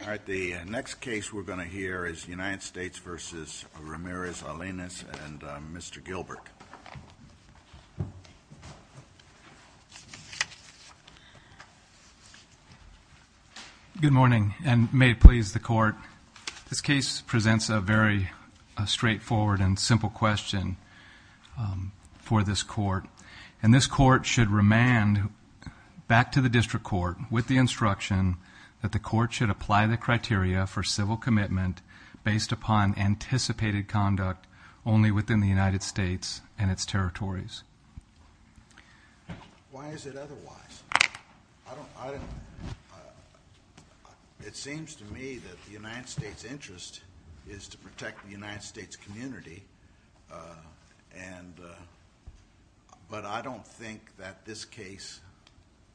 All right, the next case we're going to hear is United States v. Ramirez-Alaniz and Mr. Gilbert. Good morning, and may it please the Court, this case presents a very straightforward and simple question for this Court, and this Court should remand back to the District Court with the instruction that the Court should apply the criteria for civil commitment based upon anticipated conduct only within the United States and its territories. Why is it otherwise? It seems to me that the United States' interest is to protect the United States community, but I don't think that this case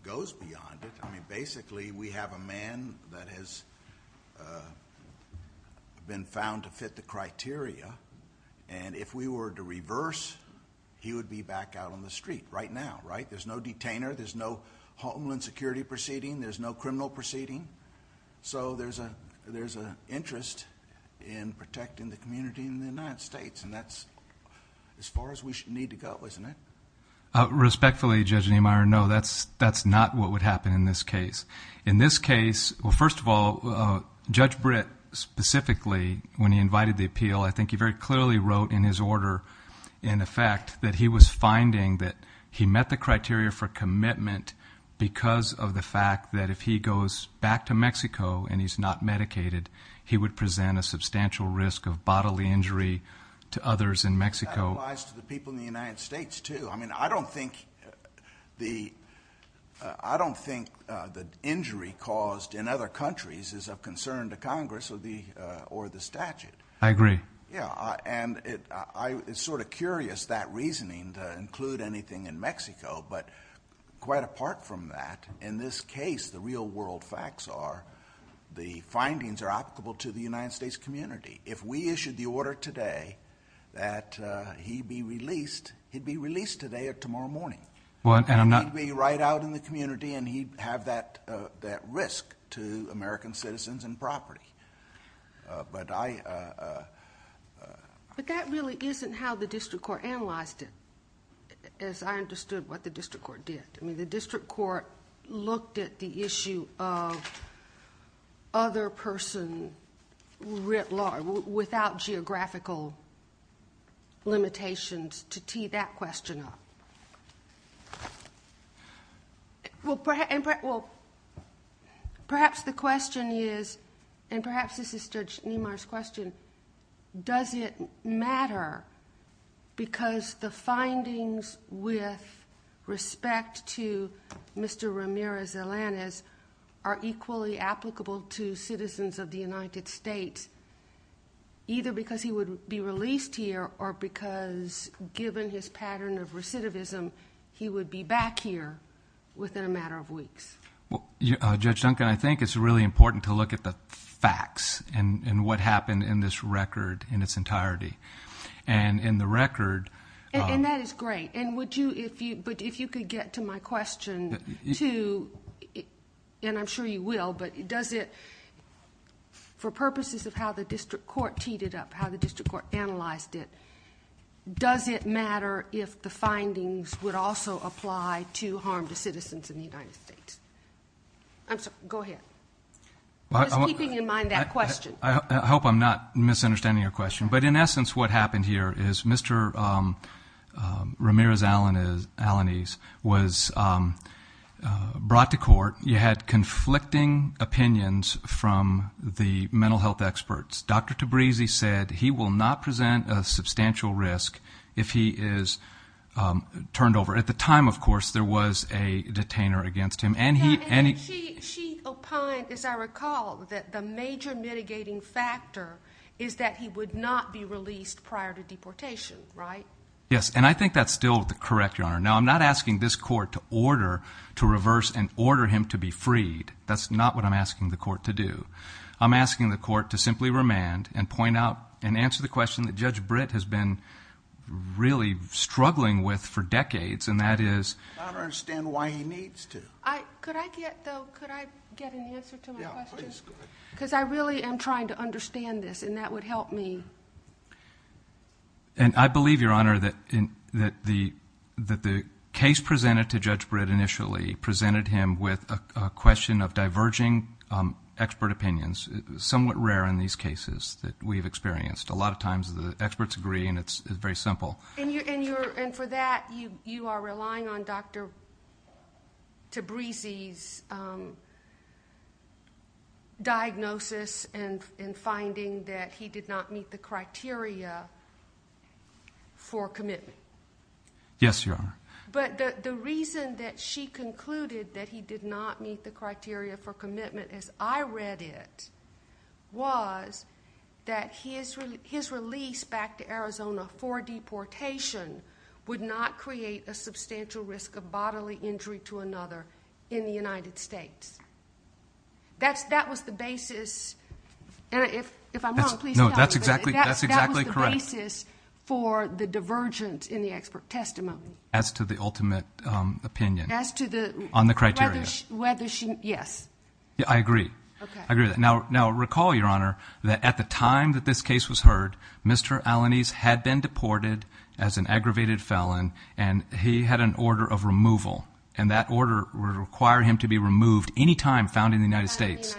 goes beyond it. Basically, we have a man that has been found to fit the criteria, and if we were to reverse, he would be back out on the street right now, right? There's no detainer, there's no homeland security proceeding, there's no criminal proceeding, so there's an interest in protecting the community in the United States, and that's as far as we need to go, isn't it? Respectfully, Judge Niemeyer, no, that's not what would happen in this case. In this case, first of all, Judge Britt specifically, when he invited the appeal, I think he very clearly wrote in his order, in effect, that he was finding that he met the criteria for commitment because of the fact that if he goes back to Mexico and he's not medicated, he would present a substantial risk of bodily injury to others in Mexico. That applies to the people in the United States, too. I mean, I don't think the injury caused in other countries is of concern to Congress or the statute. I agree. Yeah, and it's sort of curious, that reasoning to include anything in Mexico, but quite apart from that, in this case, the real world facts are the findings are applicable to the United States community. If we issued the order today that he'd be released, he'd be released today or tomorrow morning. Well, and I'm not... He'd be right out in the community, and he'd have that risk to American citizens and property. But I... But that really isn't how the district court analyzed it, as I understood what the district court did. I mean, the district court looked at the issue of other person writ law without geographical limitations to tee that question up. Well, perhaps the question is, and perhaps this is Judge Niemeyer's question, does it matter because the findings with respect to Mr. Ramirez-Zelanis are equally applicable to citizens of the United States, either because he would be released here or because given his pattern of recidivism, he would be back here within a matter of weeks? Judge Duncan, I think it's really important to look at the facts and what happened in this record in its entirety. And in the record... And that is great. But if you could get to my question too, and I'm sure you will, but does it, for purposes of how the district court teed it up, how the district court analyzed it, does it matter if the findings would also apply to harm to citizens in the United States? I'm sorry, go ahead. Just keeping in mind that question. I hope I'm not misunderstanding your question. But in essence, what happened here is Mr. Ramirez-Zelanis was brought to court. He had conflicting opinions from the mental health experts. Dr. Tabrizi said he will not present a substantial risk if he is turned over. At the time, of course, there was a detainer against him. And she opined, as I recall, that the major mitigating factor is that he would not be released prior to deportation, right? Yes. And I think that's still correct, Your Honor. Now, I'm not asking this court to order to reverse and order him to be freed. That's not what I'm asking the court to do. I'm asking the court to simply remand and point out and answer the question that Judge Britt has been really struggling with for decades, and that is... I don't understand why he needs to. Could I get, though, could I get an answer to my question? Yeah, please. Go ahead. Because I really am trying to understand this, and that would help me. And I believe, Your Honor, that the case presented to Judge Britt initially presented him with a question of diverging expert opinions, somewhat rare in these cases that we've experienced. A lot of times, the experts agree, and it's very simple. And for that, you are relying on Dr. Tabrizi's diagnosis and finding that he did not meet the criteria for commitment. Yes, Your Honor. But the reason that she concluded that he did not meet the criteria for commitment as I read it was that his release back to Arizona for deportation would not create a substantial risk of bodily injury to another in the United States. That was the basis, and if I'm wrong, please tell me. No, that's exactly correct. That was the basis for the divergence in the expert testimony. As to the ultimate opinion. As to the- On the criteria. Whether she, yes. I agree. I agree with that. Now, recall, Your Honor, that at the time that this case was heard, Mr. Alanis had been deported as an aggravated felon, and he had an order of removal, and that order would require him to be removed any time found in the United States.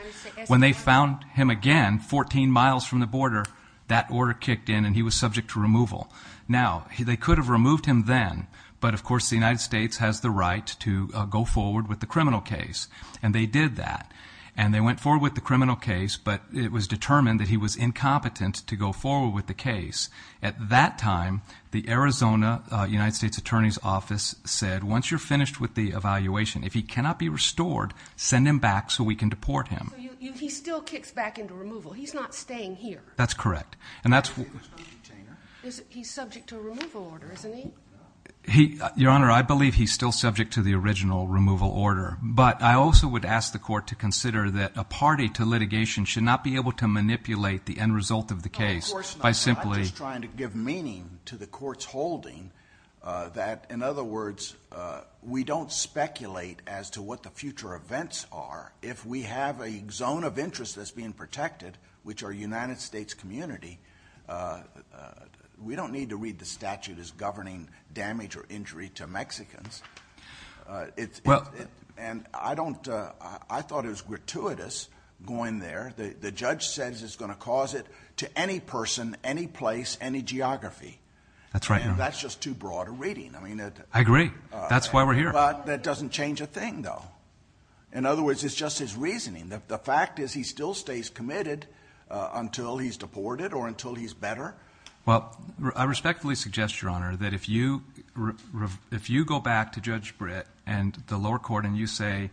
When they found him again, 14 miles from the border, that order kicked in and he was subject to removal. Now, they could have removed him then, but of course, the United States has the right to go forward with the criminal case, and they did that, and they went forward with the criminal case, but it was determined that he was incompetent to go forward with the case. At that time, the Arizona United States Attorney's Office said, once you're finished with the evaluation, if he cannot be restored, send him back so we can deport him. He still kicks back into removal. He's not staying here. That's correct, and that's- He's subject to a removal order, isn't he? Your Honor, I believe he's still subject to the original removal order, but I also would ask the court to consider that a party to litigation should not be able to manipulate the end result of the case by simply- I'm just trying to give meaning to the court's holding that, in other words, we don't speculate as to what the future events are. If we have a zone of interest that's being protected, which our United States community, we don't need to read the statute as governing damage or injury to Mexicans. I thought it was gratuitous going there. The judge says it's going to cause it to any person, any place, any geography. That's right, Your Honor. That's just too broad a reading. I agree. That's why we're here. But that doesn't change a thing, though. In other words, it's just his reasoning. The fact is he still stays committed until he's deported or until he's better. Well, I respectfully suggest, Your Honor, that if you go back to Judge Britt and the lower court and you say,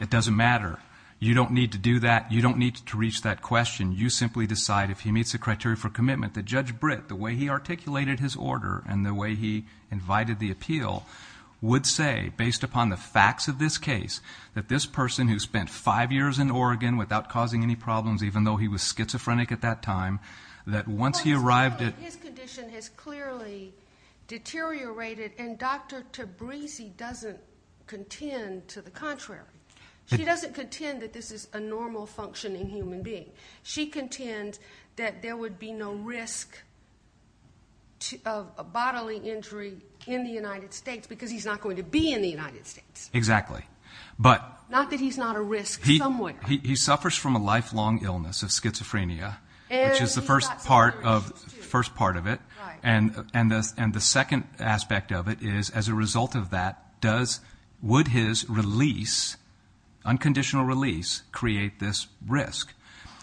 it doesn't matter, you don't need to do that. You don't need to reach that question. You simply decide, if he meets the criteria for commitment, that Judge Britt, the way he articulated his order and the way he invited the appeal, would say, based upon the facts of this case, that this person who spent five years in Oregon without causing any problems, even though he was schizophrenic at that time, that once he arrived at- His condition has clearly deteriorated. And Dr. Tabrisi doesn't contend to the contrary. She doesn't contend that this is a normal functioning human being. She contends that there would be no risk of a bodily injury in the United States because he's not going to be in the United States. Exactly. But- Not that he's not a risk somewhere. He suffers from a lifelong illness of schizophrenia, which is the first part of it. And the second aspect of it is, as a result of that, would his release, unconditional release, create this risk?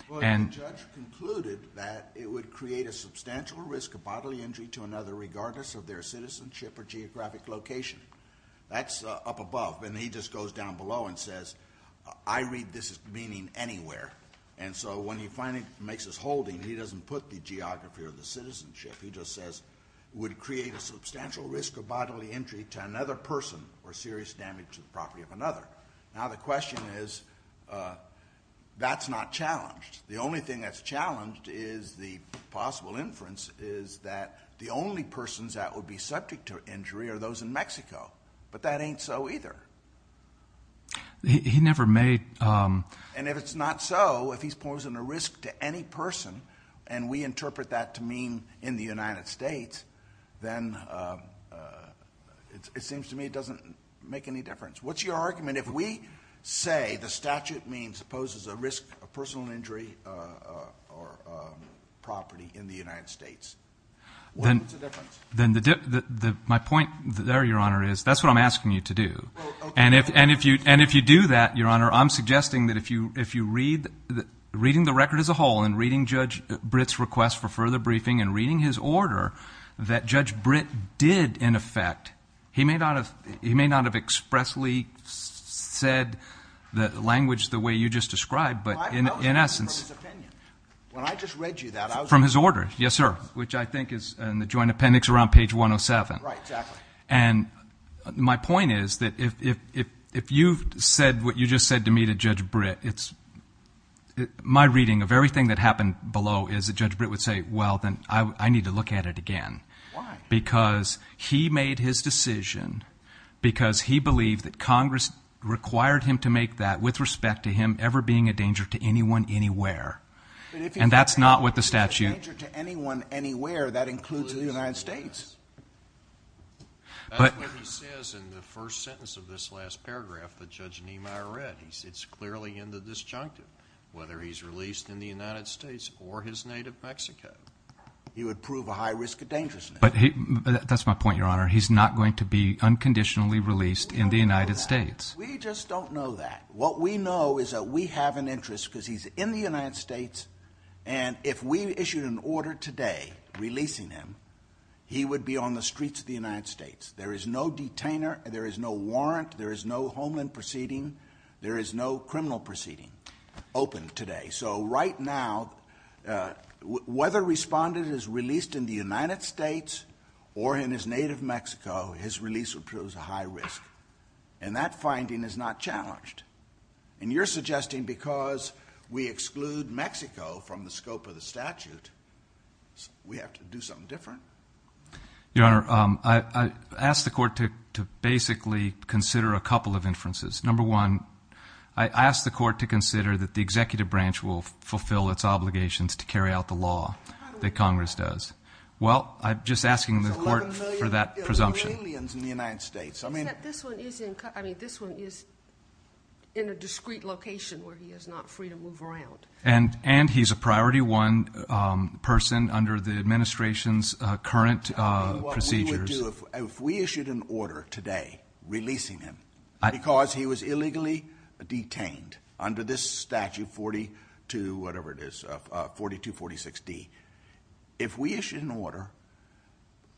Well, the judge concluded that it would create a substantial risk of bodily injury to another, regardless of their citizenship or geographic location. That's up above. And he just goes down below and says, I read this meaning anywhere. And so when he finally makes his holding, he doesn't put the geography or the citizenship. He just says, would create a substantial risk of bodily injury to another person or serious damage to the property of another. Now, the question is, that's not challenged. The only thing that's challenged is the possible inference is that the only persons that would be subject to injury are those in Mexico. But that ain't so either. He never made- And if it's not so, if he's posing a risk to any person, and we interpret that to mean in the United States, then it seems to me it doesn't make any difference. What's your argument? If we say the statute poses a risk of personal injury or property in the United States, what's the difference? Then my point there, Your Honor, is that's what I'm asking you to do. And if you do that, Your Honor, I'm suggesting that if you read the record as a whole, and reading Judge Britt's request for further briefing, and reading his order, that Judge Britt did, in effect- He may not have expressly said the language the way you just described, but in essence- I was reading from his opinion. When I just read you that, I was- From his order. Yes, sir. Which I think is in the Joint Appendix around page 107. Right, exactly. And my point is that if you've said what you just said to me to Judge Britt, my reading of everything that happened below is that Judge Britt would say, well, then I need to look at it again. Why? Because he made his decision because he believed that Congress required him to make that with respect to him ever being a danger to anyone, anywhere. And that's not what the statute- If he's a danger to anyone, anywhere, that includes the United States. That's what he says in the first sentence of this last paragraph that Judge Niemeyer read. It's clearly in the disjunctive, whether he's released in the United States or his native Mexico. He would prove a high risk of dangerousness. But that's my point, Your Honor. He's not going to be unconditionally released in the United States. We just don't know that. What we know is that we have an interest because he's in the United States. And if we issued an order today releasing him, he would be on the streets of the United States. There is no detainer. There is no warrant. There is no homeland proceeding. There is no criminal proceeding open today. So right now, whether respondent is released in the United States or in his native Mexico, his release would prove a high risk. And that finding is not challenged. And you're suggesting because we exclude Mexico from the scope of the statute, we have to do something different? Your Honor, I asked the court to basically consider a couple of inferences. Number one, I asked the court to consider that the executive branch will fulfill its obligations to carry out the law that Congress does. Well, I'm just asking the court for that presumption. There's 11 million Iraelians in the United States. Except this one is in a discrete location where he is not free to move around. And he's a priority one person under the administration's current procedures. If we issued an order today, releasing him because he was illegally detained under this statute 42, whatever it is, 4246D. If we issued an order,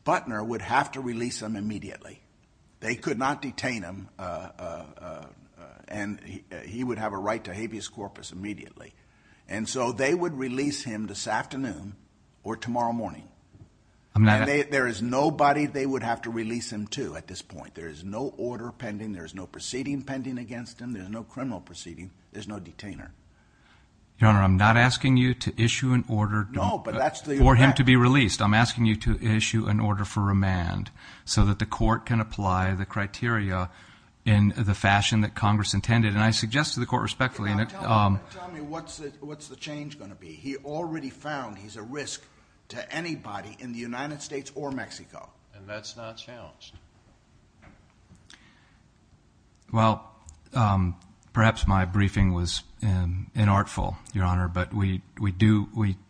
Butner would have to release him immediately. They could not detain him. And he would have a right to habeas corpus immediately. And so they would release him this afternoon or tomorrow morning. There is nobody they would have to release him to at this point. There is no order pending. There is no proceeding pending against him. There's no criminal proceeding. There's no detainer. Your Honor, I'm not asking you to issue an order for him to be released. I'm asking you to issue an order for remand so that the court can apply the criteria in the fashion that Congress intended. And I suggest to the court respectfully. Tell me what's the change going to be? He already found he's a risk to anybody in the United States or Mexico. And that's not challenged. Well, perhaps my briefing was inartful, Your Honor. But we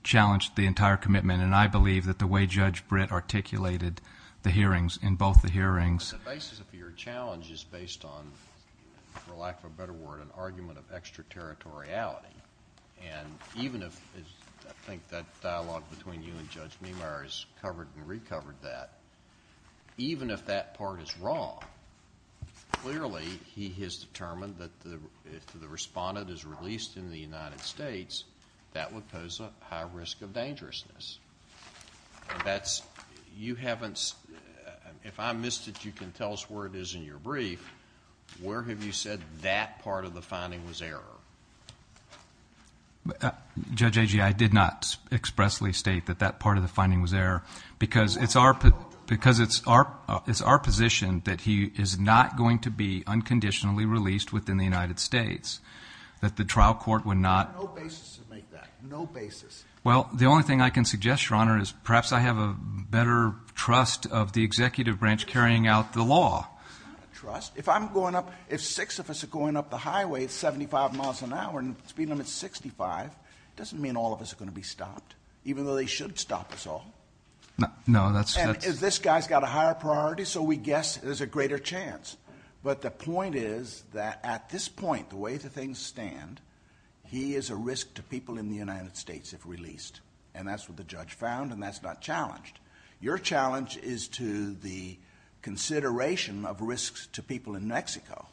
challenged the entire commitment. And I believe that the way Judge Britt articulated the hearings in both the hearings. But the basis of your challenge is based on, for lack of a better word, an argument of extraterritoriality. And even if, I think that dialogue between you and Judge Meemeyer has covered and recovered that, even if that part is wrong, clearly he has determined that if the respondent is released in the United States, that would pose a high risk of dangerousness. And that's, you haven't, if I missed it, you can tell us where it is in your brief. Where have you said that part of the finding was error? Judge Agee, I did not expressly state that that part of the finding was error. Because it's our position that he is not going to be unconditionally released within the United States. That the trial court would not- There's no basis to make that. No basis. Well, the only thing I can suggest, Your Honor, is perhaps I have a better trust of the executive branch carrying out the law. It's not a trust. If I'm going up, if six of us are going up the highway at 75 miles an hour, speed limit 65, it doesn't mean all of us are going to be stopped, even though they should stop us all. No, that's- And if this guy's got a higher priority, so we guess there's a greater chance. But the point is that at this point, the way the things stand, he is a risk to people in the United States if released. And that's what the judge found, and that's not challenged. Your challenge is to the consideration of risks to people in Mexico.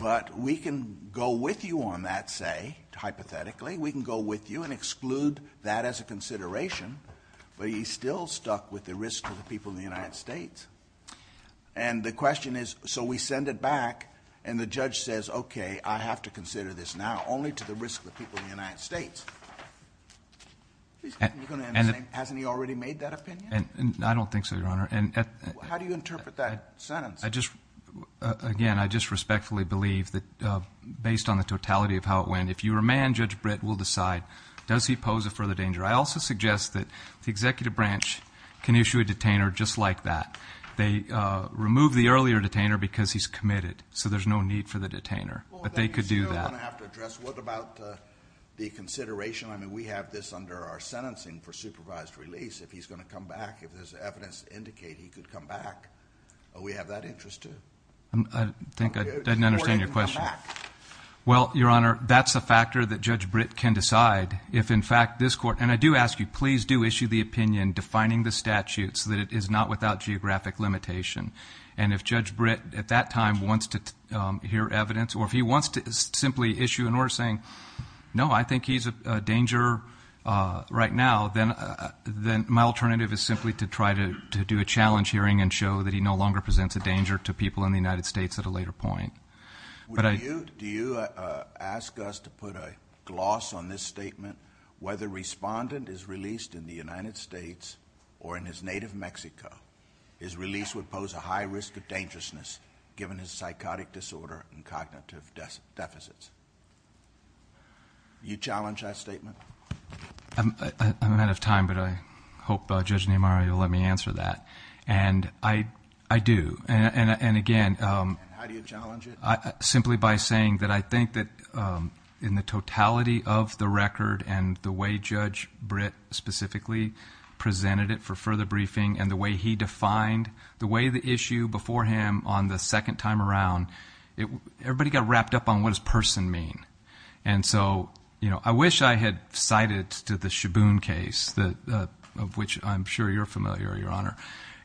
But we can go with you on that, say, hypothetically. We can go with you and exclude that as a consideration, but he's still stuck with the risk to the people in the United States. And the question is, so we send it back, and the judge says, okay, I have to consider this now, only to the risk to the people in the United States. Hasn't he already made that opinion? I don't think so, Your Honor. How do you interpret that sentence? Again, I just respectfully believe that based on the totality of how it went, if you were a man, Judge Britt will decide. Does he pose a further danger? I also suggest that the executive branch can issue a detainer just like that. They remove the earlier detainer because he's committed, so there's no need for the detainer. But they could do that. I have to address, what about the consideration? I mean, we have this under our sentencing for supervised release. If he's going to come back, if there's evidence to indicate he could come back, we have that interest, too. I think I didn't understand your question. Well, Your Honor, that's a factor that Judge Britt can decide. If, in fact, this court, and I do ask you, please do issue the opinion defining the statute so that it is not without geographic limitation. And if Judge Britt, at that time, wants to hear evidence, or if he wants to simply issue an order saying, no, I think he's a danger right now, then my alternative is simply to try to do a challenge hearing and show that he no longer presents a danger to people in the United States at a later point. Do you ask us to put a gloss on this statement? Whether respondent is released in the United States or in his native Mexico, his release would pose a high risk of dangerousness given his psychotic disorder and cognitive deficits. You challenge that statement? I'm out of time, but I hope Judge Neymar will let me answer that. And I do. And again, simply by saying that I think that in the totality of the record and the way Judge Britt specifically presented it for further briefing and the way he defined the way the issue before him on the second time around, everybody got wrapped up on what does person mean. And so I wish I had cited to the Shaboon case, of which I'm sure you're familiar, Your Honor.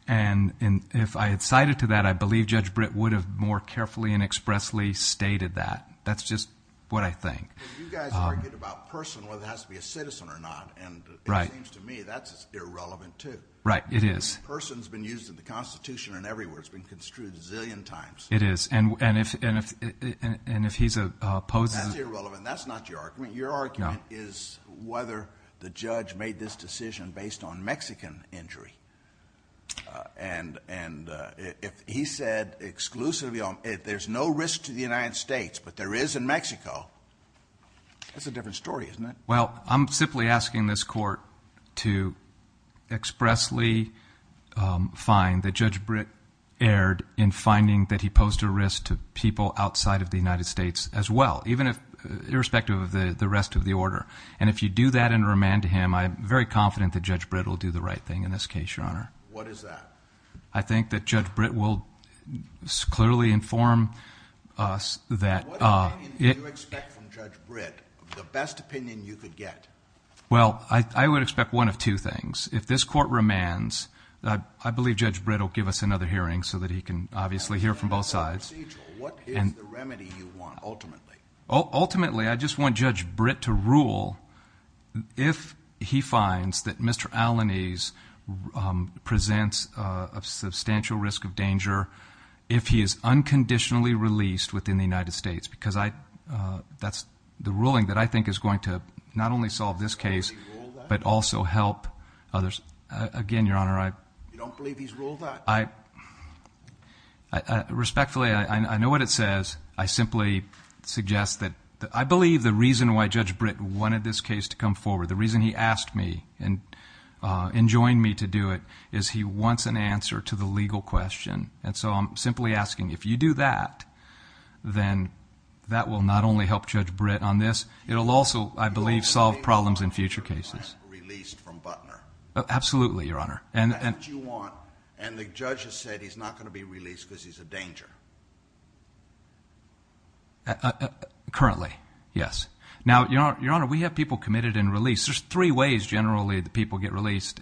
And if I had cited to that, I believe Judge Britt would have more carefully and expressly stated that. That's just what I think. But you guys argued about person, whether it has to be a citizen or not. And it seems to me that's irrelevant, too. Right, it is. Person's been used in the Constitution and everywhere. It's been construed a zillion times. It is. And if he's opposed— That's irrelevant. That's not your argument. Your argument is whether the judge made this decision based on Mexican injury. And if he said exclusively, there's no risk to the United States, but there is in Mexico, that's a different story, isn't it? Well, I'm simply asking this Court to expressly find that Judge Britt erred in finding that he posed a risk to people outside of the United States as well, even if—irrespective of the rest of the order. And if you do that and remand to him, I'm very confident that Judge Britt will do the right thing in this case, Your Honor. What is that? I think that Judge Britt will clearly inform us that— What opinion do you expect from Judge Britt, the best opinion you could get? Well, I would expect one of two things. If this Court remands, I believe Judge Britt will give us another hearing. So that he can obviously hear from both sides. What is the remedy you want, ultimately? Ultimately, I just want Judge Britt to rule if he finds that Mr. Alanis presents a substantial risk of danger if he is unconditionally released within the United States. Because that's the ruling that I think is going to not only solve this case, but also help others. Again, Your Honor, I— You don't believe he's ruled that? I—respectfully, I know what it says. I simply suggest that— I believe the reason why Judge Britt wanted this case to come forward, the reason he asked me and enjoined me to do it, is he wants an answer to the legal question. And so I'm simply asking, if you do that, then that will not only help Judge Britt on this, it'll also, I believe, solve problems in future cases. You don't believe he's ruled that you're going to have him released from Butner? Absolutely, Your Honor. That's what you want, and the judge has said he's not going to be released because he's a danger. Currently, yes. Now, Your Honor, we have people committed and released. There's three ways, generally, that people get released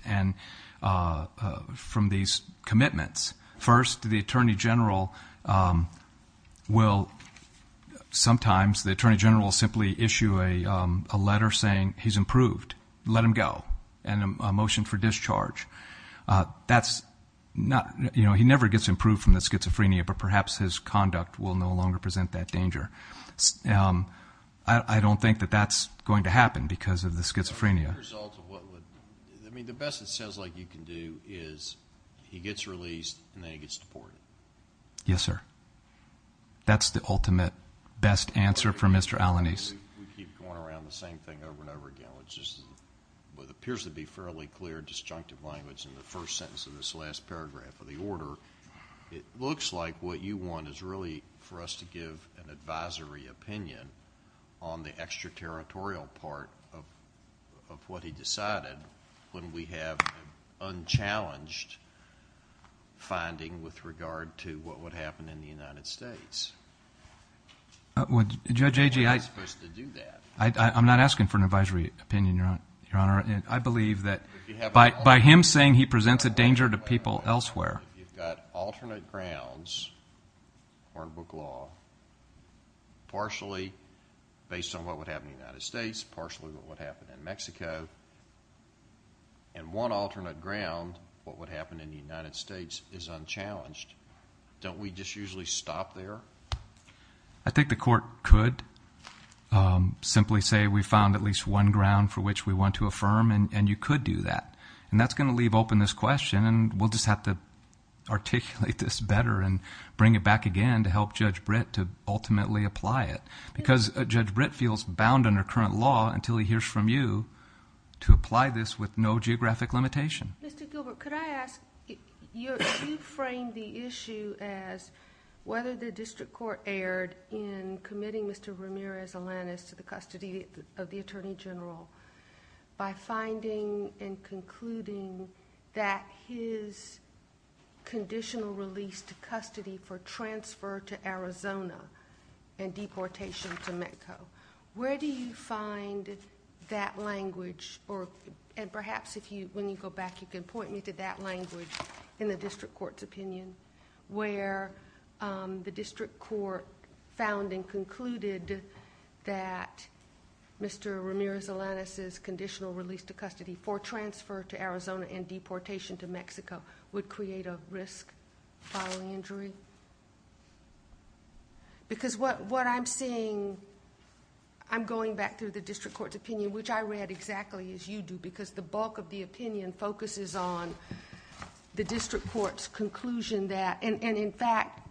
from these commitments. First, the Attorney General will— sometimes the Attorney General will simply issue a letter saying, he's improved. Let him go. And a motion for discharge. That's not— you know, he never gets improved from the schizophrenia, but perhaps his conduct will no longer present that danger. I don't think that that's going to happen because of the schizophrenia. As a result of what would— I mean, the best it sounds like you can do is he gets released and then he gets deported. Yes, sir. That's the ultimate best answer for Mr. Alanis. We keep going around the same thing over and over again, which is what appears to be fairly clear disjunctive language in the first sentence of this last paragraph of the order. It looks like what you want is really for us to give an advisory opinion on the extraterritorial part of what he decided when we have unchallenged finding with regard to what would happen in the United States. Judge Agee, I'm not asking for an advisory opinion, Your Honor. I believe that by him saying he presents a danger to people elsewhere. You've got alternate grounds, hardbook law, partially based on what would happen in the United States, partially what would happen in Mexico. And one alternate ground, what would happen in the United States, is unchallenged. Don't we just usually stop there? I think the court could simply say we found at least one ground for which we want to affirm and you could do that. And that's going to leave open this question and we'll just have to articulate this better and bring it back again to help Judge Britt to ultimately apply it. Because Judge Britt feels bound under current law until he hears from you to apply this with no geographic limitation. Mr. Gilbert, could I ask, you framed the issue as whether the district court erred in committing Mr. Ramirez-Alanis to the custody of the Attorney General by finding and concluding that his conditional release to custody for transfer to Arizona and deportation to Metco. Where do you find that language? And perhaps when you go back, you can point me to that language in the district court's opinion. Where the district court found and concluded that Mr. Ramirez-Alanis' conditional release to custody for transfer to Arizona and deportation to Mexico would create a risk following injury. Because what I'm seeing, I'm going back through the district court's opinion, which I read exactly as you do because the bulk of the opinion focuses on the district court's conclusion that, and in fact,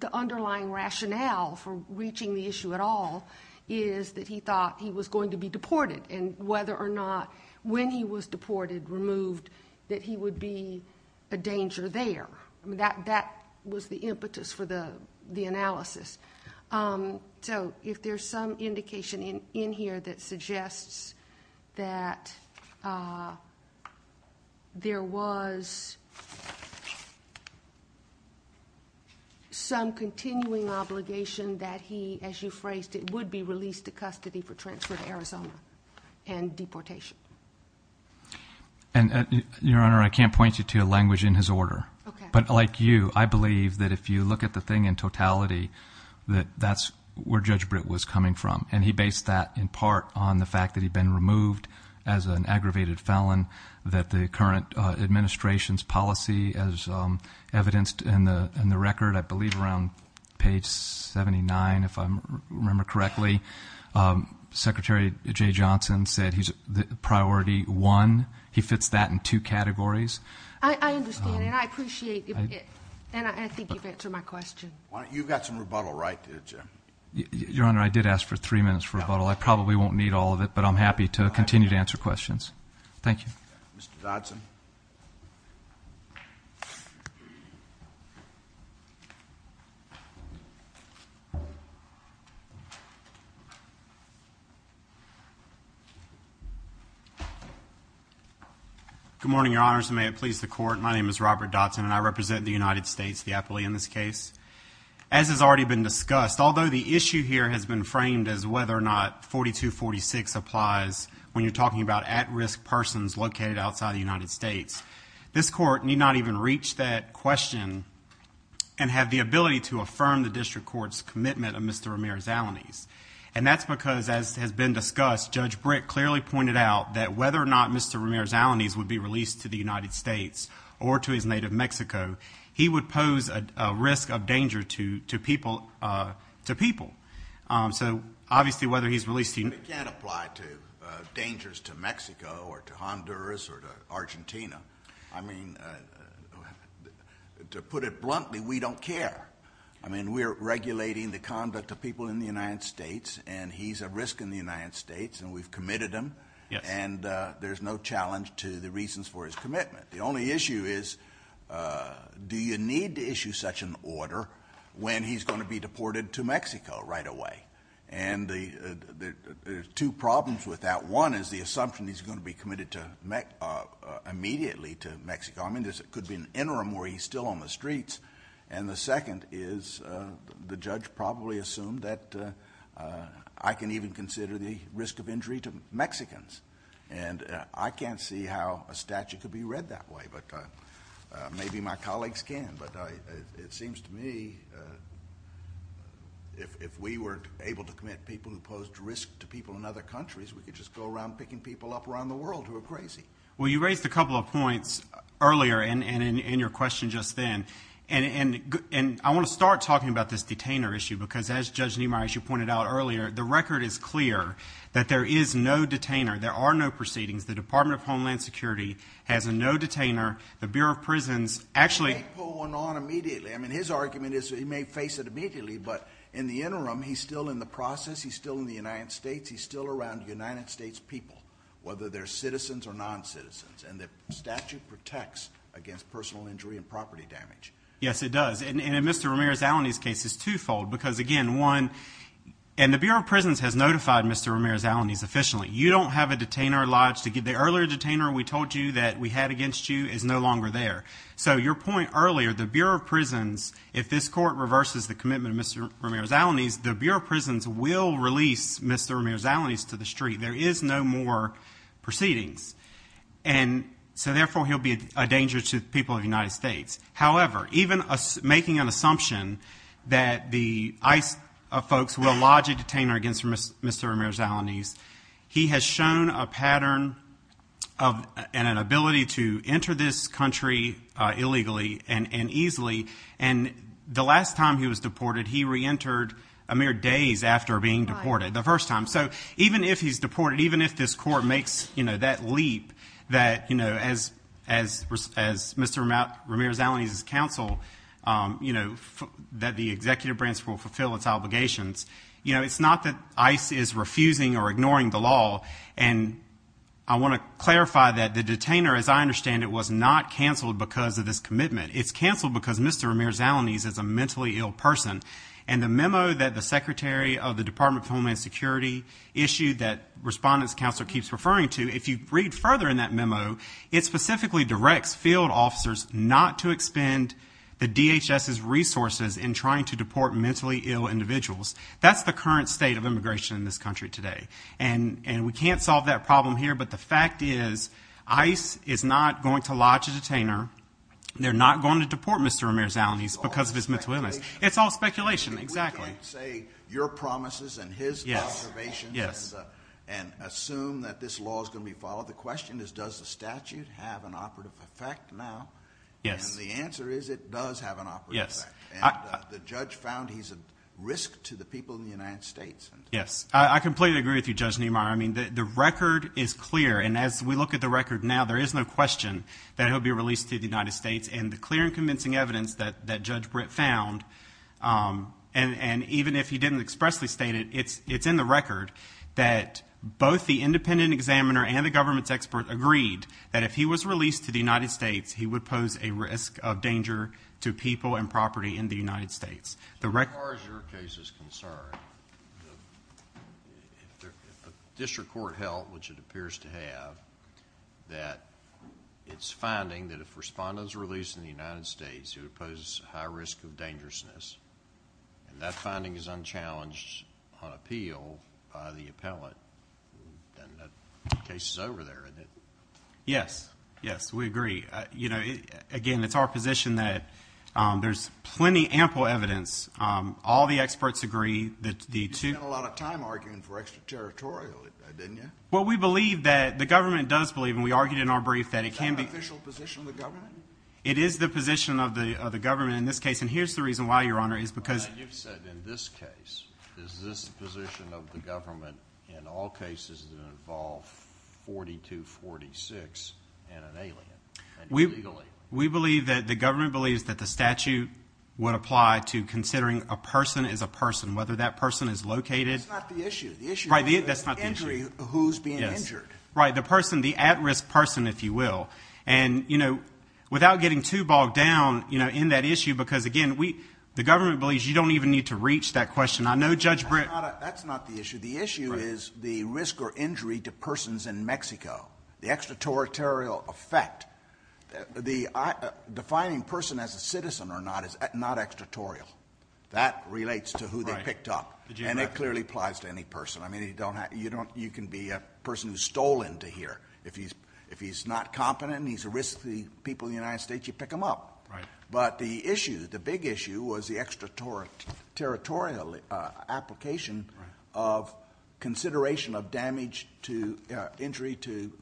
the underlying rationale for reaching the issue at all is that he thought he was going to be deported and whether or not when he was deported, removed, that he would be a danger there. That was the impetus for the analysis. So if there's some indication in here that suggests that there was some continuing obligation that he, as you phrased it, would be released to custody for transfer to Arizona and deportation. And Your Honor, I can't point you to a language in his order. But like you, I believe that if you look at the thing in totality, that that's where Judge Britt was coming from. And he based that in part on the fact that he'd been removed as an aggravated felon, that the current administration's policy as evidenced in the record, I believe around page 79, if I remember correctly, Secretary Jay Johnson said he's priority one. He fits that in two categories. I understand. And I appreciate it. And I think you've answered my question. You've got some rebuttal, right? Your Honor, I did ask for three minutes for rebuttal. I probably won't need all of it. But I'm happy to continue to answer questions. Thank you. Mr. Dotson. Good morning, Your Honors. And may it please the Court. My name is Robert Dotson, and I represent the United States, the appellee in this case. As has already been discussed, although the issue here has been framed as whether or not 4246 applies when you're talking about at-risk persons located outside the United States, this Court need not even reach that question and have the ability to affirm the District Court's commitment of Mr. Ramirez-Alaniz. And that's because, as has been discussed, Judge Britt clearly pointed out that whether or not Mr. Ramirez-Alaniz would be released to the United States or to his native Mexico, he would pose a risk of danger to people. So obviously, whether he's released to the United States— It can't apply to dangers to Mexico or to Honduras or to Argentina. I mean, to put it bluntly, we don't care. I mean, we're regulating the conduct of people in the United States, and he's a risk in the United States, and we've committed him, and there's no challenge to the reasons for his commitment. The only issue is, do you need to issue such an order when he's going to be deported to Mexico right away? And there's two problems with that. One is the assumption he's going to be committed immediately to Mexico. I mean, there could be an interim where he's still on the streets. And the second is the judge probably assumed that I can even consider the risk of injury to Mexicans. And I can't see how a statute could be read that way, but maybe my colleagues can. But it seems to me, if we were able to commit people who posed risk to people in other countries, we could just go around picking people up around the world who are crazy. Well, you raised a couple of points earlier and in your question just then. And I want to start talking about this detainer issue, because as Judge Niemeyer, as you pointed out earlier, the record is clear that there is no detainer. There are no proceedings. The Department of Homeland Security has a no detainer. The Bureau of Prisons actually- He may pull one on immediately. I mean, his argument is he may face it immediately, but in the interim, he's still in the process. He's still in the United States. He's still around the United States people, whether they're citizens or non-citizens. And the statute protects against personal injury and property damage. Yes, it does. And in Mr. Ramirez-Alaniz's case, it's twofold. Because again, one, and the Bureau of Prisons has notified Mr. Ramirez-Alaniz officially. You don't have a detainer lodged. The earlier detainer we told you that we had against you is no longer there. So your point earlier, the Bureau of Prisons, if this court reverses the commitment of Mr. Ramirez-Alaniz, the Bureau of Prisons will release Mr. Ramirez-Alaniz to the street. There is no more proceedings. And so therefore, he'll be a danger to the people of the United States. However, even making an assumption that the ICE folks will lodge a detainer against Mr. Ramirez-Alaniz, he has shown a pattern and an ability to enter this country illegally and easily. And the last time he was deported, he re-entered a mere days after being deported, the first time. So even if he's deported, even if this court makes that leap that, as Mr. Ramirez-Alaniz's counsel, that the executive branch will fulfill its obligations, it's not that ICE is refusing or ignoring the law. And I want to clarify that the detainer, as I understand it, was not canceled because of this commitment. It's canceled because Mr. Ramirez-Alaniz is a mentally ill person. And the memo that the secretary of the Department of Homeland Security issued that Respondent's Counselor keeps referring to, if you read further in that memo, it specifically directs field officers not to expend the DHS's resources in trying to deport mentally ill individuals. That's the current state of immigration in this country today. And we can't solve that problem here. But the fact is, ICE is not going to lodge a detainer. They're not going to deport Mr. Ramirez-Alaniz because of his mental illness. It's all speculation. Exactly. We can't say your promises and his observations and assume that this law is going to be followed. The question is, does the statute have an operative effect now? Yes. And the answer is, it does have an operative effect. And the judge found he's a risk to the people in the United States. Yes, I completely agree with you, Judge Niemeyer. I mean, the record is clear. And as we look at the record now, there is no question that he'll be released to the United States. And the clear and convincing evidence that Judge Britt found, and even if he didn't expressly state it, it's in the record that both the independent examiner and the government's expert agreed that if he was released to the United States, he would pose a risk of danger to people and property in the United States. As far as your case is concerned, if the district court held, which it appears to have, that it's finding that if respondents are released in the United States, it would pose a high risk of dangerousness. And that finding is unchallenged on appeal by the appellate. Then the case is over there. Yes. Yes, we agree. You know, again, it's our position that there's plenty ample evidence. All the experts agree that the two... You spent a lot of time arguing for extraterritorial, didn't you? Well, we believe that the government does believe, and we argued in our brief, that it can be... Is that an official position of the government? It is the position of the government in this case. And here's the reason why, Your Honor, is because... You've said in this case, is this position of the government in all cases that involve 4246 and an alien, and illegally. We believe that the government believes that the statute would apply to considering a person is a person, whether that person is located... That's not the issue. The issue is the injury, who's being injured. Right, the person, the at-risk person, if you will. And, you know, without getting too bogged down, you know, in that issue, because again, the government believes you don't even need to reach that question. I know Judge Britt... That's not the issue. The issue is the risk or injury to persons in Mexico, the extraterritorial effect. The defining person as a citizen or not is not extraterritorial. That relates to who they picked up, and it clearly applies to any person. I mean, you can be a person who's stolen to here. If he's not competent, he's a risky people in the United States, you pick him up. Right. But the issue, the big issue, was the extraterritorial application of consideration of damage to injury to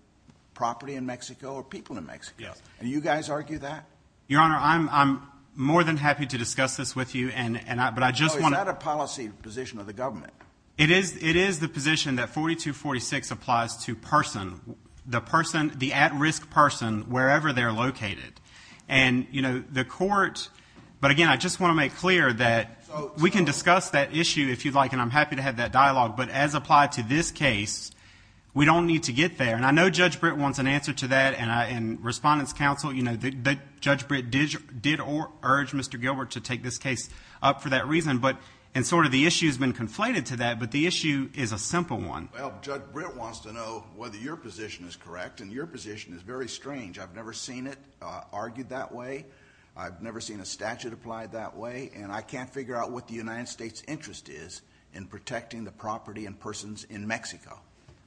property in Mexico or people in Mexico. Yes. And you guys argue that? Your Honor, I'm more than happy to discuss this with you, and I, but I just want to... No, is that a policy position of the government? It is. It is the position that 4246 applies to person, the person, the at-risk person, wherever they're located. And, you know, the court, but again, I just want to make clear that we can discuss that issue if you'd like, and I'm happy to have that dialogue. But as applied to this case, we don't need to get there. And I know Judge Britt wants an answer to that, and Respondents Council, you know, that Judge Britt did urge Mr. Gilbert to take this case up for that reason. But, and sort of the issue has been conflated to that, but the issue is a simple one. Well, Judge Britt wants to know whether your position is correct, and your position is very strange. I've never seen it argued that way. I've never seen a statute applied that way. And I can't figure out what the United States interest is in protecting the property and persons in Mexico.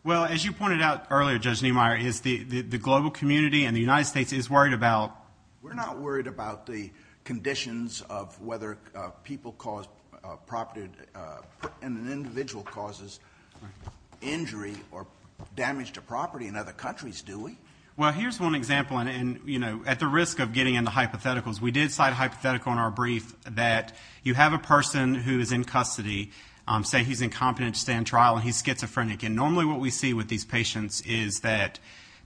Well, as you pointed out earlier, Judge Niemeyer, is the global community and the United States is worried about... We're not worried about the conditions of whether people cause property, and an individual causes injury or damage to property in other countries, do we? Well, here's one example. And, you know, at the risk of getting into hypotheticals, we did cite a hypothetical in our brief that you have a person who is in custody, say he's incompetent to stand trial, and he's schizophrenic. And normally what we see with these patients is that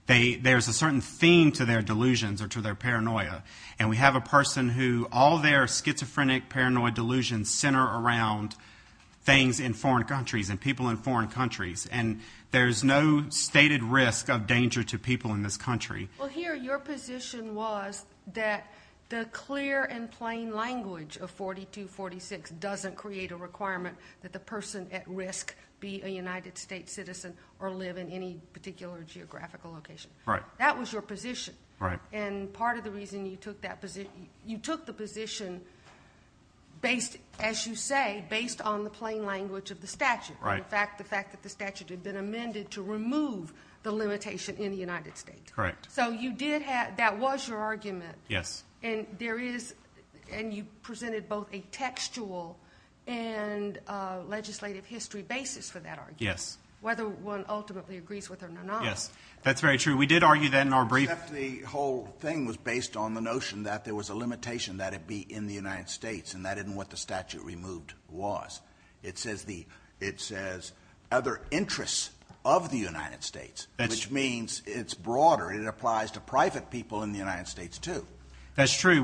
there's a certain theme to their delusions or to their paranoia. And we have a person who, all their schizophrenic, paranoid delusions center around things in foreign countries and people in foreign countries. And there's no stated risk of danger to people in this country. Well, here, your position was that the clear and plain language of 4246 doesn't create a requirement that the person at risk be a United States citizen or live in any particular geographical location. Right. That was your position. Right. And part of the reason you took that position, you took the position based, as you say, based on the plain language of the statute. Right. In fact, the fact that the statute had been amended to remove the limitation in the United States. Correct. So you did have, that was your argument. Yes. And there is, and you presented both a textual and a legislative history basis for that argument. Yes. Whether one ultimately agrees with it or not. Yes. That's very true. We did argue that in our brief. The whole thing was based on the notion that there was a limitation that it be in the United States and that isn't what the statute removed was. It says the, it says other interests of the United States, which means it's broader. It applies to private people in the United States too. That's true.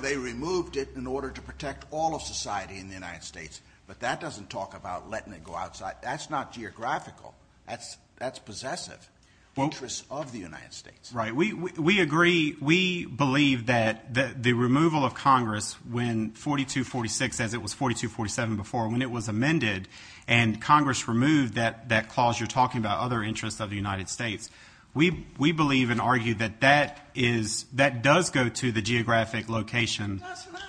They removed it in order to protect all of society in the United States, but that doesn't talk about letting it go outside. That's not geographical. That's, that's possessive interests of the United States. Right. We, we, we agree. We believe that the removal of Congress when 4246, as it was 4247 before, when it was amended and Congress removed that, that clause, you're talking about other interests of the United States. We, we believe and argue that that is, that does go to the geographic location. That's not.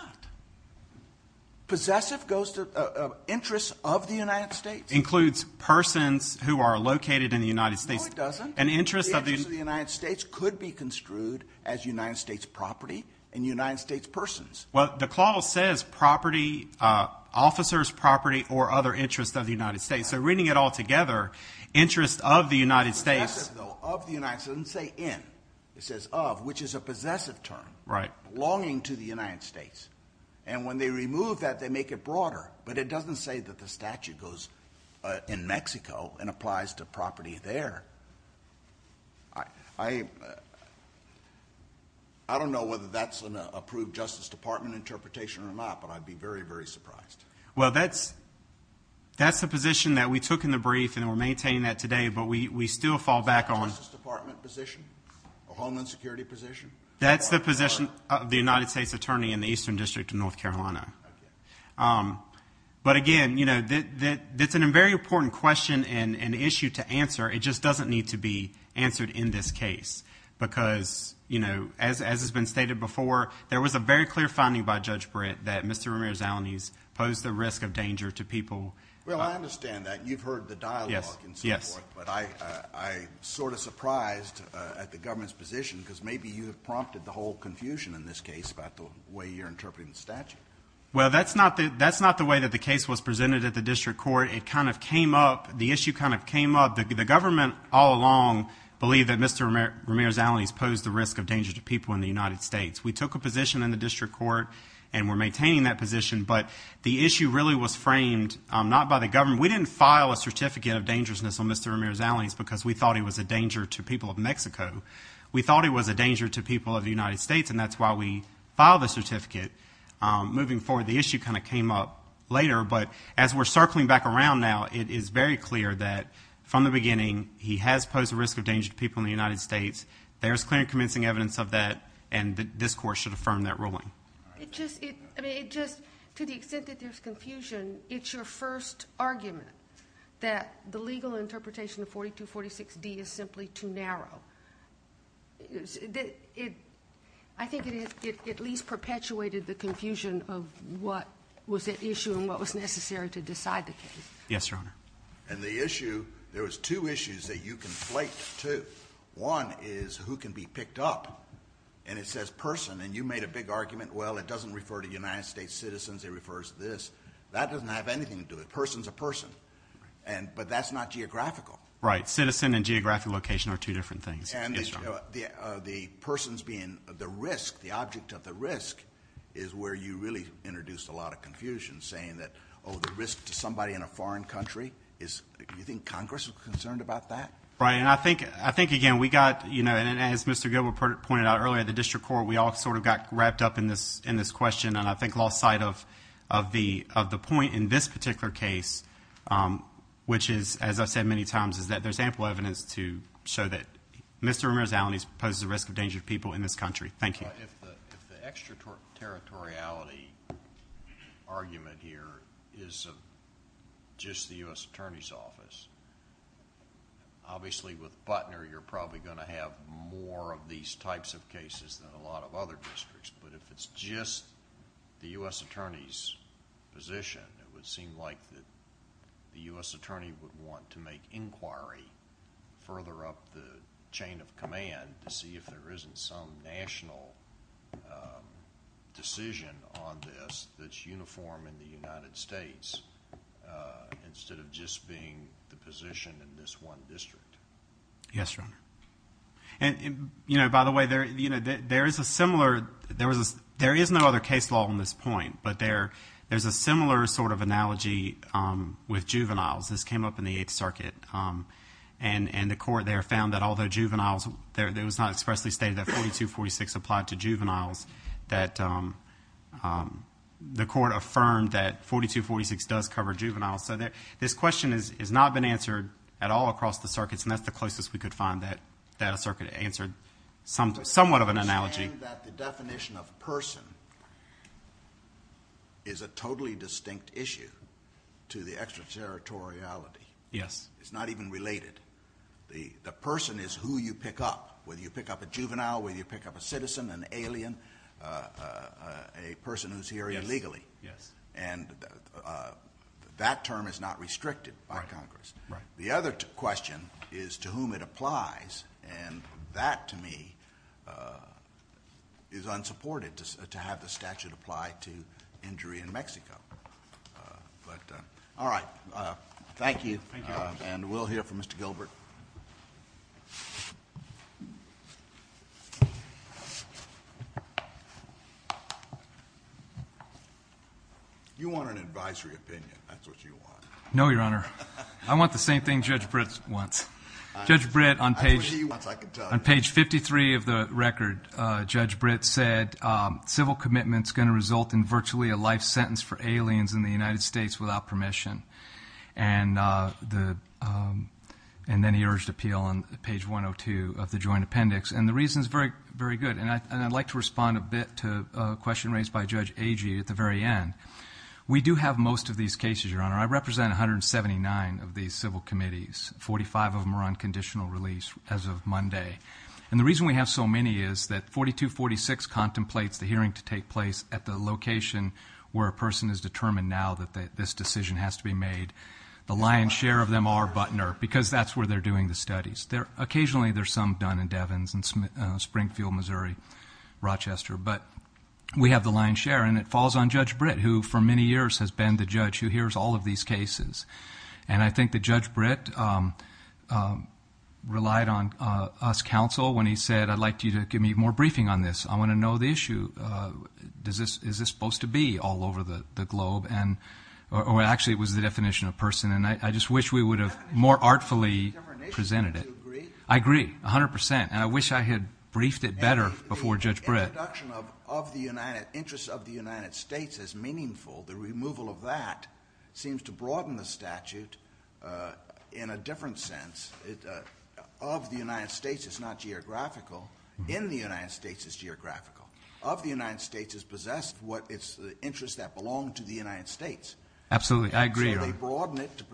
Possessive goes to interests of the United States. Includes persons who are located in the United States. No, it doesn't. An interest of the United States could be construed as United States property and United States persons. Well, the clause says property, officers, property, or other interests of the United States. So reading it all together, interest of the United States. Of the United States, it doesn't say in. It says of, which is a possessive term. Right. Belonging to the United States. And when they remove that, they make it broader, but it doesn't say that the statute goes in Mexico and applies to property there. I, I, I don't know whether that's an approved justice department interpretation or not, but I'd be very, very surprised. Well, that's. That's the position that we took in the brief and we're maintaining that today, but we, we still fall back on. Justice department position or homeland security position. That's the position of the United States attorney in the Eastern district of North Carolina. But again, you know, that, that, that's a very important question and an issue to answer. It just doesn't need to be answered in this case because, you know, as, as has been stated before, there was a very clear finding by judge Britt that Mr. Ramirez-Alaniz posed the risk of danger to people. Well, I understand that you've heard the dialogue and so forth, but I, I sort of surprised at the government's position because maybe you have prompted the whole confusion in this case about the way you're interpreting the statute. Well, that's not the, that's not the way that the case was presented at the district court. It kind of came up, the issue kind of came up. The government all along believe that Mr. Ramirez-Alaniz posed the risk of danger to people in the United States. We took a position in the district court and we're maintaining that position, but the issue really was framed not by the government. We didn't file a certificate of dangerousness on Mr. Ramirez-Alaniz because we thought he was a danger to people of Mexico. We thought he was a danger to people of the United States and that's why we filed the certificate. Moving forward, the issue kind of came up later, but as we're circling back around now, it is very clear that from the beginning, he has posed the risk of danger to people in the United States. There's clear and convincing evidence of that and this court should affirm that ruling. It just, I mean, it just, to the extent that there's confusion, it's your first argument that the legal interpretation of 4246D is simply too narrow. I think it at least perpetuated the confusion of what was at issue and what was necessary to decide the case. Yes, Your Honor. And the issue, there was two issues that you conflate the two. One is who can be picked up and it says person and you made a big argument, well, it doesn't refer to United States citizens, it refers to this. That doesn't have anything to do with it. Person's a person, but that's not geographical. Right, citizen and geographic location are two different things. And the person's being the risk, the object of the risk is where you really introduced a lot of confusion saying that, oh, the risk to somebody in a foreign country is, you think Congress was concerned about that? Right, and I think, again, we got, you know, and as Mr. Gilbert pointed out earlier, the district court, we all sort of got wrapped up in this question and I think lost sight of the point in this particular case, which is, as I've said many times, is that there's ample evidence to show that Mr. Ramirez-Alanis poses a risk of danger to people in this country. Thank you. If the extraterritoriality argument here is just the U.S. Attorney's Office, obviously with Butner, you're probably going to have more of these types of cases than a lot of other districts, but if it's just the U.S. Attorney's position, it would seem like that the U.S. Attorney would want to make inquiry further up the chain of command to see if there isn't some national decision on this that's uniform in the United States instead of just being the position in this one district. Yes, Your Honor. And, you know, by the way, there is a similar, there is no other case law on this point, but there's a similar sort of analogy with juveniles. This came up in the Eighth Circuit, and the court there found that although juveniles, it was not expressly stated that 4246 applied to juveniles, that the court affirmed that 4246 does cover juveniles. So this question has not been answered at all across the circuits, and that's the closest we could find that a circuit answered somewhat of an analogy. I understand that the definition of person is a totally distinct issue to the extraterritoriality. Yes. It's not even related. The person is who you pick up, whether you pick up a juvenile, whether you pick up a citizen, an alien, a person who's here illegally. Yes. And that term is not restricted by Congress. Right. The other question is to whom it applies, and that to me is unsupported to have the statute apply to injury in Mexico. All right. Thank you, and we'll hear from Mr. Gilbert. You want an advisory opinion. That's what you want. No, Your Honor. I want the same thing Judge Britt wants. Judge Britt, on page 53 of the record, Judge Britt said, civil commitment is going to result in virtually a life sentence for aliens in the United States without permission. And then he urged appeal on page 102 of the joint appendix. And the reason is very, very good. And I'd like to respond a bit to a question raised by Judge Agee at the very end. We do have most of these cases, Your Honor. I represent 179 of these civil committees, 45 of them are on conditional release as of Monday. And the reason we have so many is that 4246 contemplates the hearing to take place at the location where a person is determined now that this decision has to be made. The lion's share of them are Butner, because that's where they're doing the studies. Occasionally, there's some Dun and Devins and Springfield, Missouri, Rochester. But we have the lion's share. And it falls on Judge Britt, who for many years has been the judge who hears all of these cases. And I think that Judge Britt relied on us counsel when he said, I'd like you to give me more briefing on this. I want to know the issue. Is this supposed to be all over the globe? And actually, it was the definition of person. And I just wish we would have more artfully presented it. Do you agree? I agree, 100%. And I wish I had briefed it better before Judge Britt. The introduction of the interests of the United States is meaningful. The removal of that seems to broaden the statute in a different sense. Of the United States, it's not geographical. In the United States, it's geographical. Of the United States, it's possessed the interests that belong to the United States. Absolutely. I agree. So they broaden it to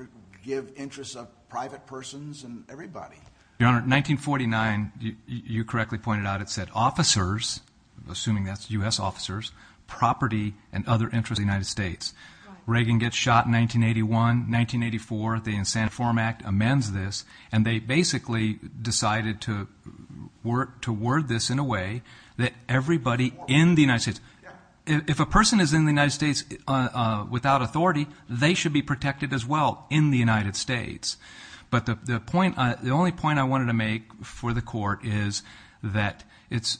give interests of private persons and everybody. Your Honor, 1949, you correctly pointed out, it said officers, assuming that's US officers, property, and other interests of the United States. Reagan gets shot in 1981. 1984, the Insane Reform Act amends this. And they basically decided to word this in a way that everybody in the United States, if a person is in the United States without authority, they should be protected as well in the United States. But the only point I wanted to make for the court is that it's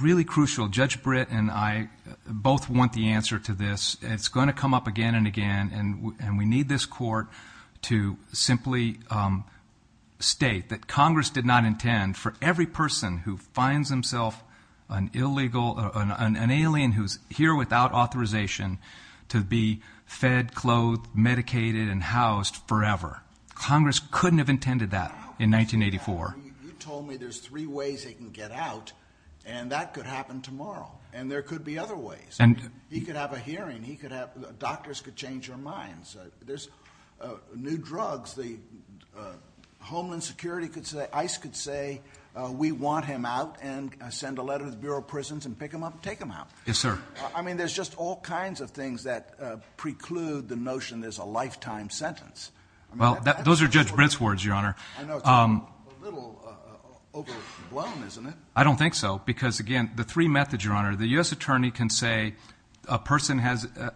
really crucial. Judge Britt and I both want the answer to this. It's going to come up again and again. And we need this court to simply state that Congress did not intend for every person who finds himself an alien who's here without authorization to be fed, clothed, medicated, and housed forever. Congress couldn't have intended that in 1984. You told me there's three ways they can get out. And that could happen tomorrow. And there could be other ways. He could have a hearing. He could have, doctors could change their minds. There's new drugs. Homeland Security could say, ICE could say, we want him out and send a letter to the Bureau of Prisons and pick him up and take him out. Yes, sir. I mean, there's just all kinds of things that preclude the notion there's a lifetime sentence. Well, those are Judge Britt's words, Your Honor. I know. It's a little overblown, isn't it? I don't think so. Because again, the three methods, Your Honor, the U.S. Attorney can say a person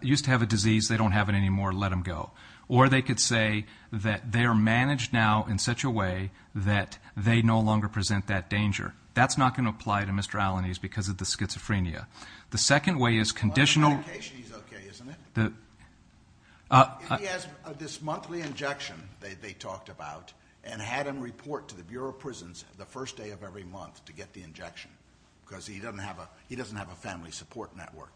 used to have a disease. They don't have it anymore. Let him go. Or they could say that they are managed now in such a way that they no longer present that danger. That's not going to apply to Mr. Allen. He's because of the schizophrenia. The second way is conditional. The medication is OK, isn't it? If he has this monthly injection they talked about and had him report to the Bureau of Prisons the first day of every month to get the injection because he doesn't have a family support network,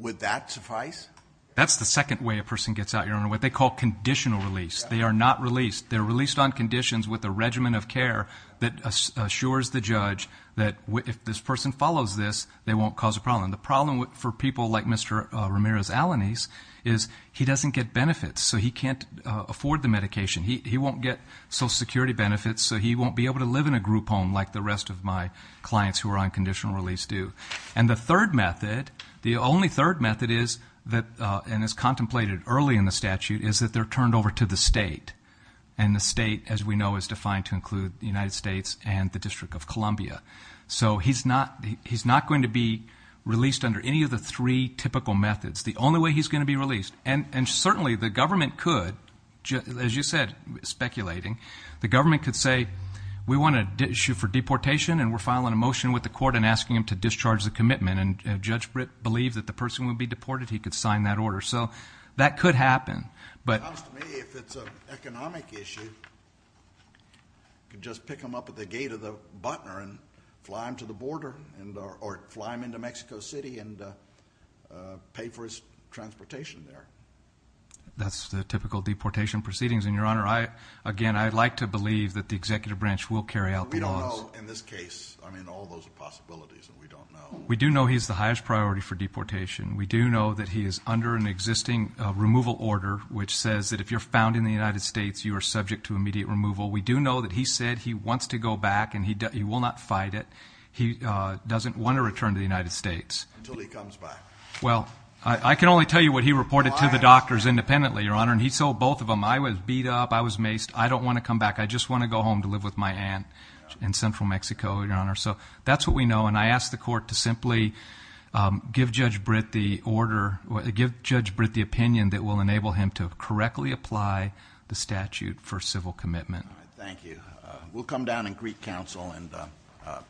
would that suffice? That's the second way a person gets out, Your Honor, what they call conditional release. They are not released. They're released on conditions with a regimen of care that assures the judge that if this person follows this, they won't cause a problem. The problem for people like Mr. Ramirez-Alaniz is he doesn't get benefits. So he can't afford the medication. He won't get Social Security benefits. So he won't be able to live in a group home like the rest of my clients who are on conditional release do. And the third method, the only third method is that, and is contemplated early in the statute, is that they're turned over to the state. And the state, as we know, is defined to include the United States and the District of Columbia. So he's not going to be released under any of the three typical methods. The only way he's going to be released, and certainly the government could, as you said, speculating, the government could say, we want an issue for deportation and we're filing a motion with the court and asking him to discharge the commitment. And if Judge Britt believed that the person would be deported, he could sign that order. So that could happen. But to me, if it's an economic issue, you could just pick him up at the gate of the Butner and fly him to the border or fly him into Mexico City and pay for his transportation there. That's the typical deportation proceedings. And Your Honor, I, again, I'd like to believe that the executive branch will carry out the laws. In this case, I mean, all those are possibilities that we don't know. We do know he's the highest priority for deportation. We do know that he is under an existing removal order, which says that if you're found in the United States, you are subject to immediate removal. We do know that he said he wants to go back and he will not fight it. He doesn't want to return to the United States until he comes back. Well, I can only tell you what he reported to the doctors independently, Your Honor. And he sold both of them. I was beat up. I was maced. I don't want to come back. I just want to go home to live with my aunt in Central Mexico, Your Honor. So that's what we know. And I ask the court to simply give Judge Britt the order, give Judge Britt the opinion that will enable him to correctly apply the statute for civil commitment. All right. Thank you. We'll come down and greet counsel and proceed.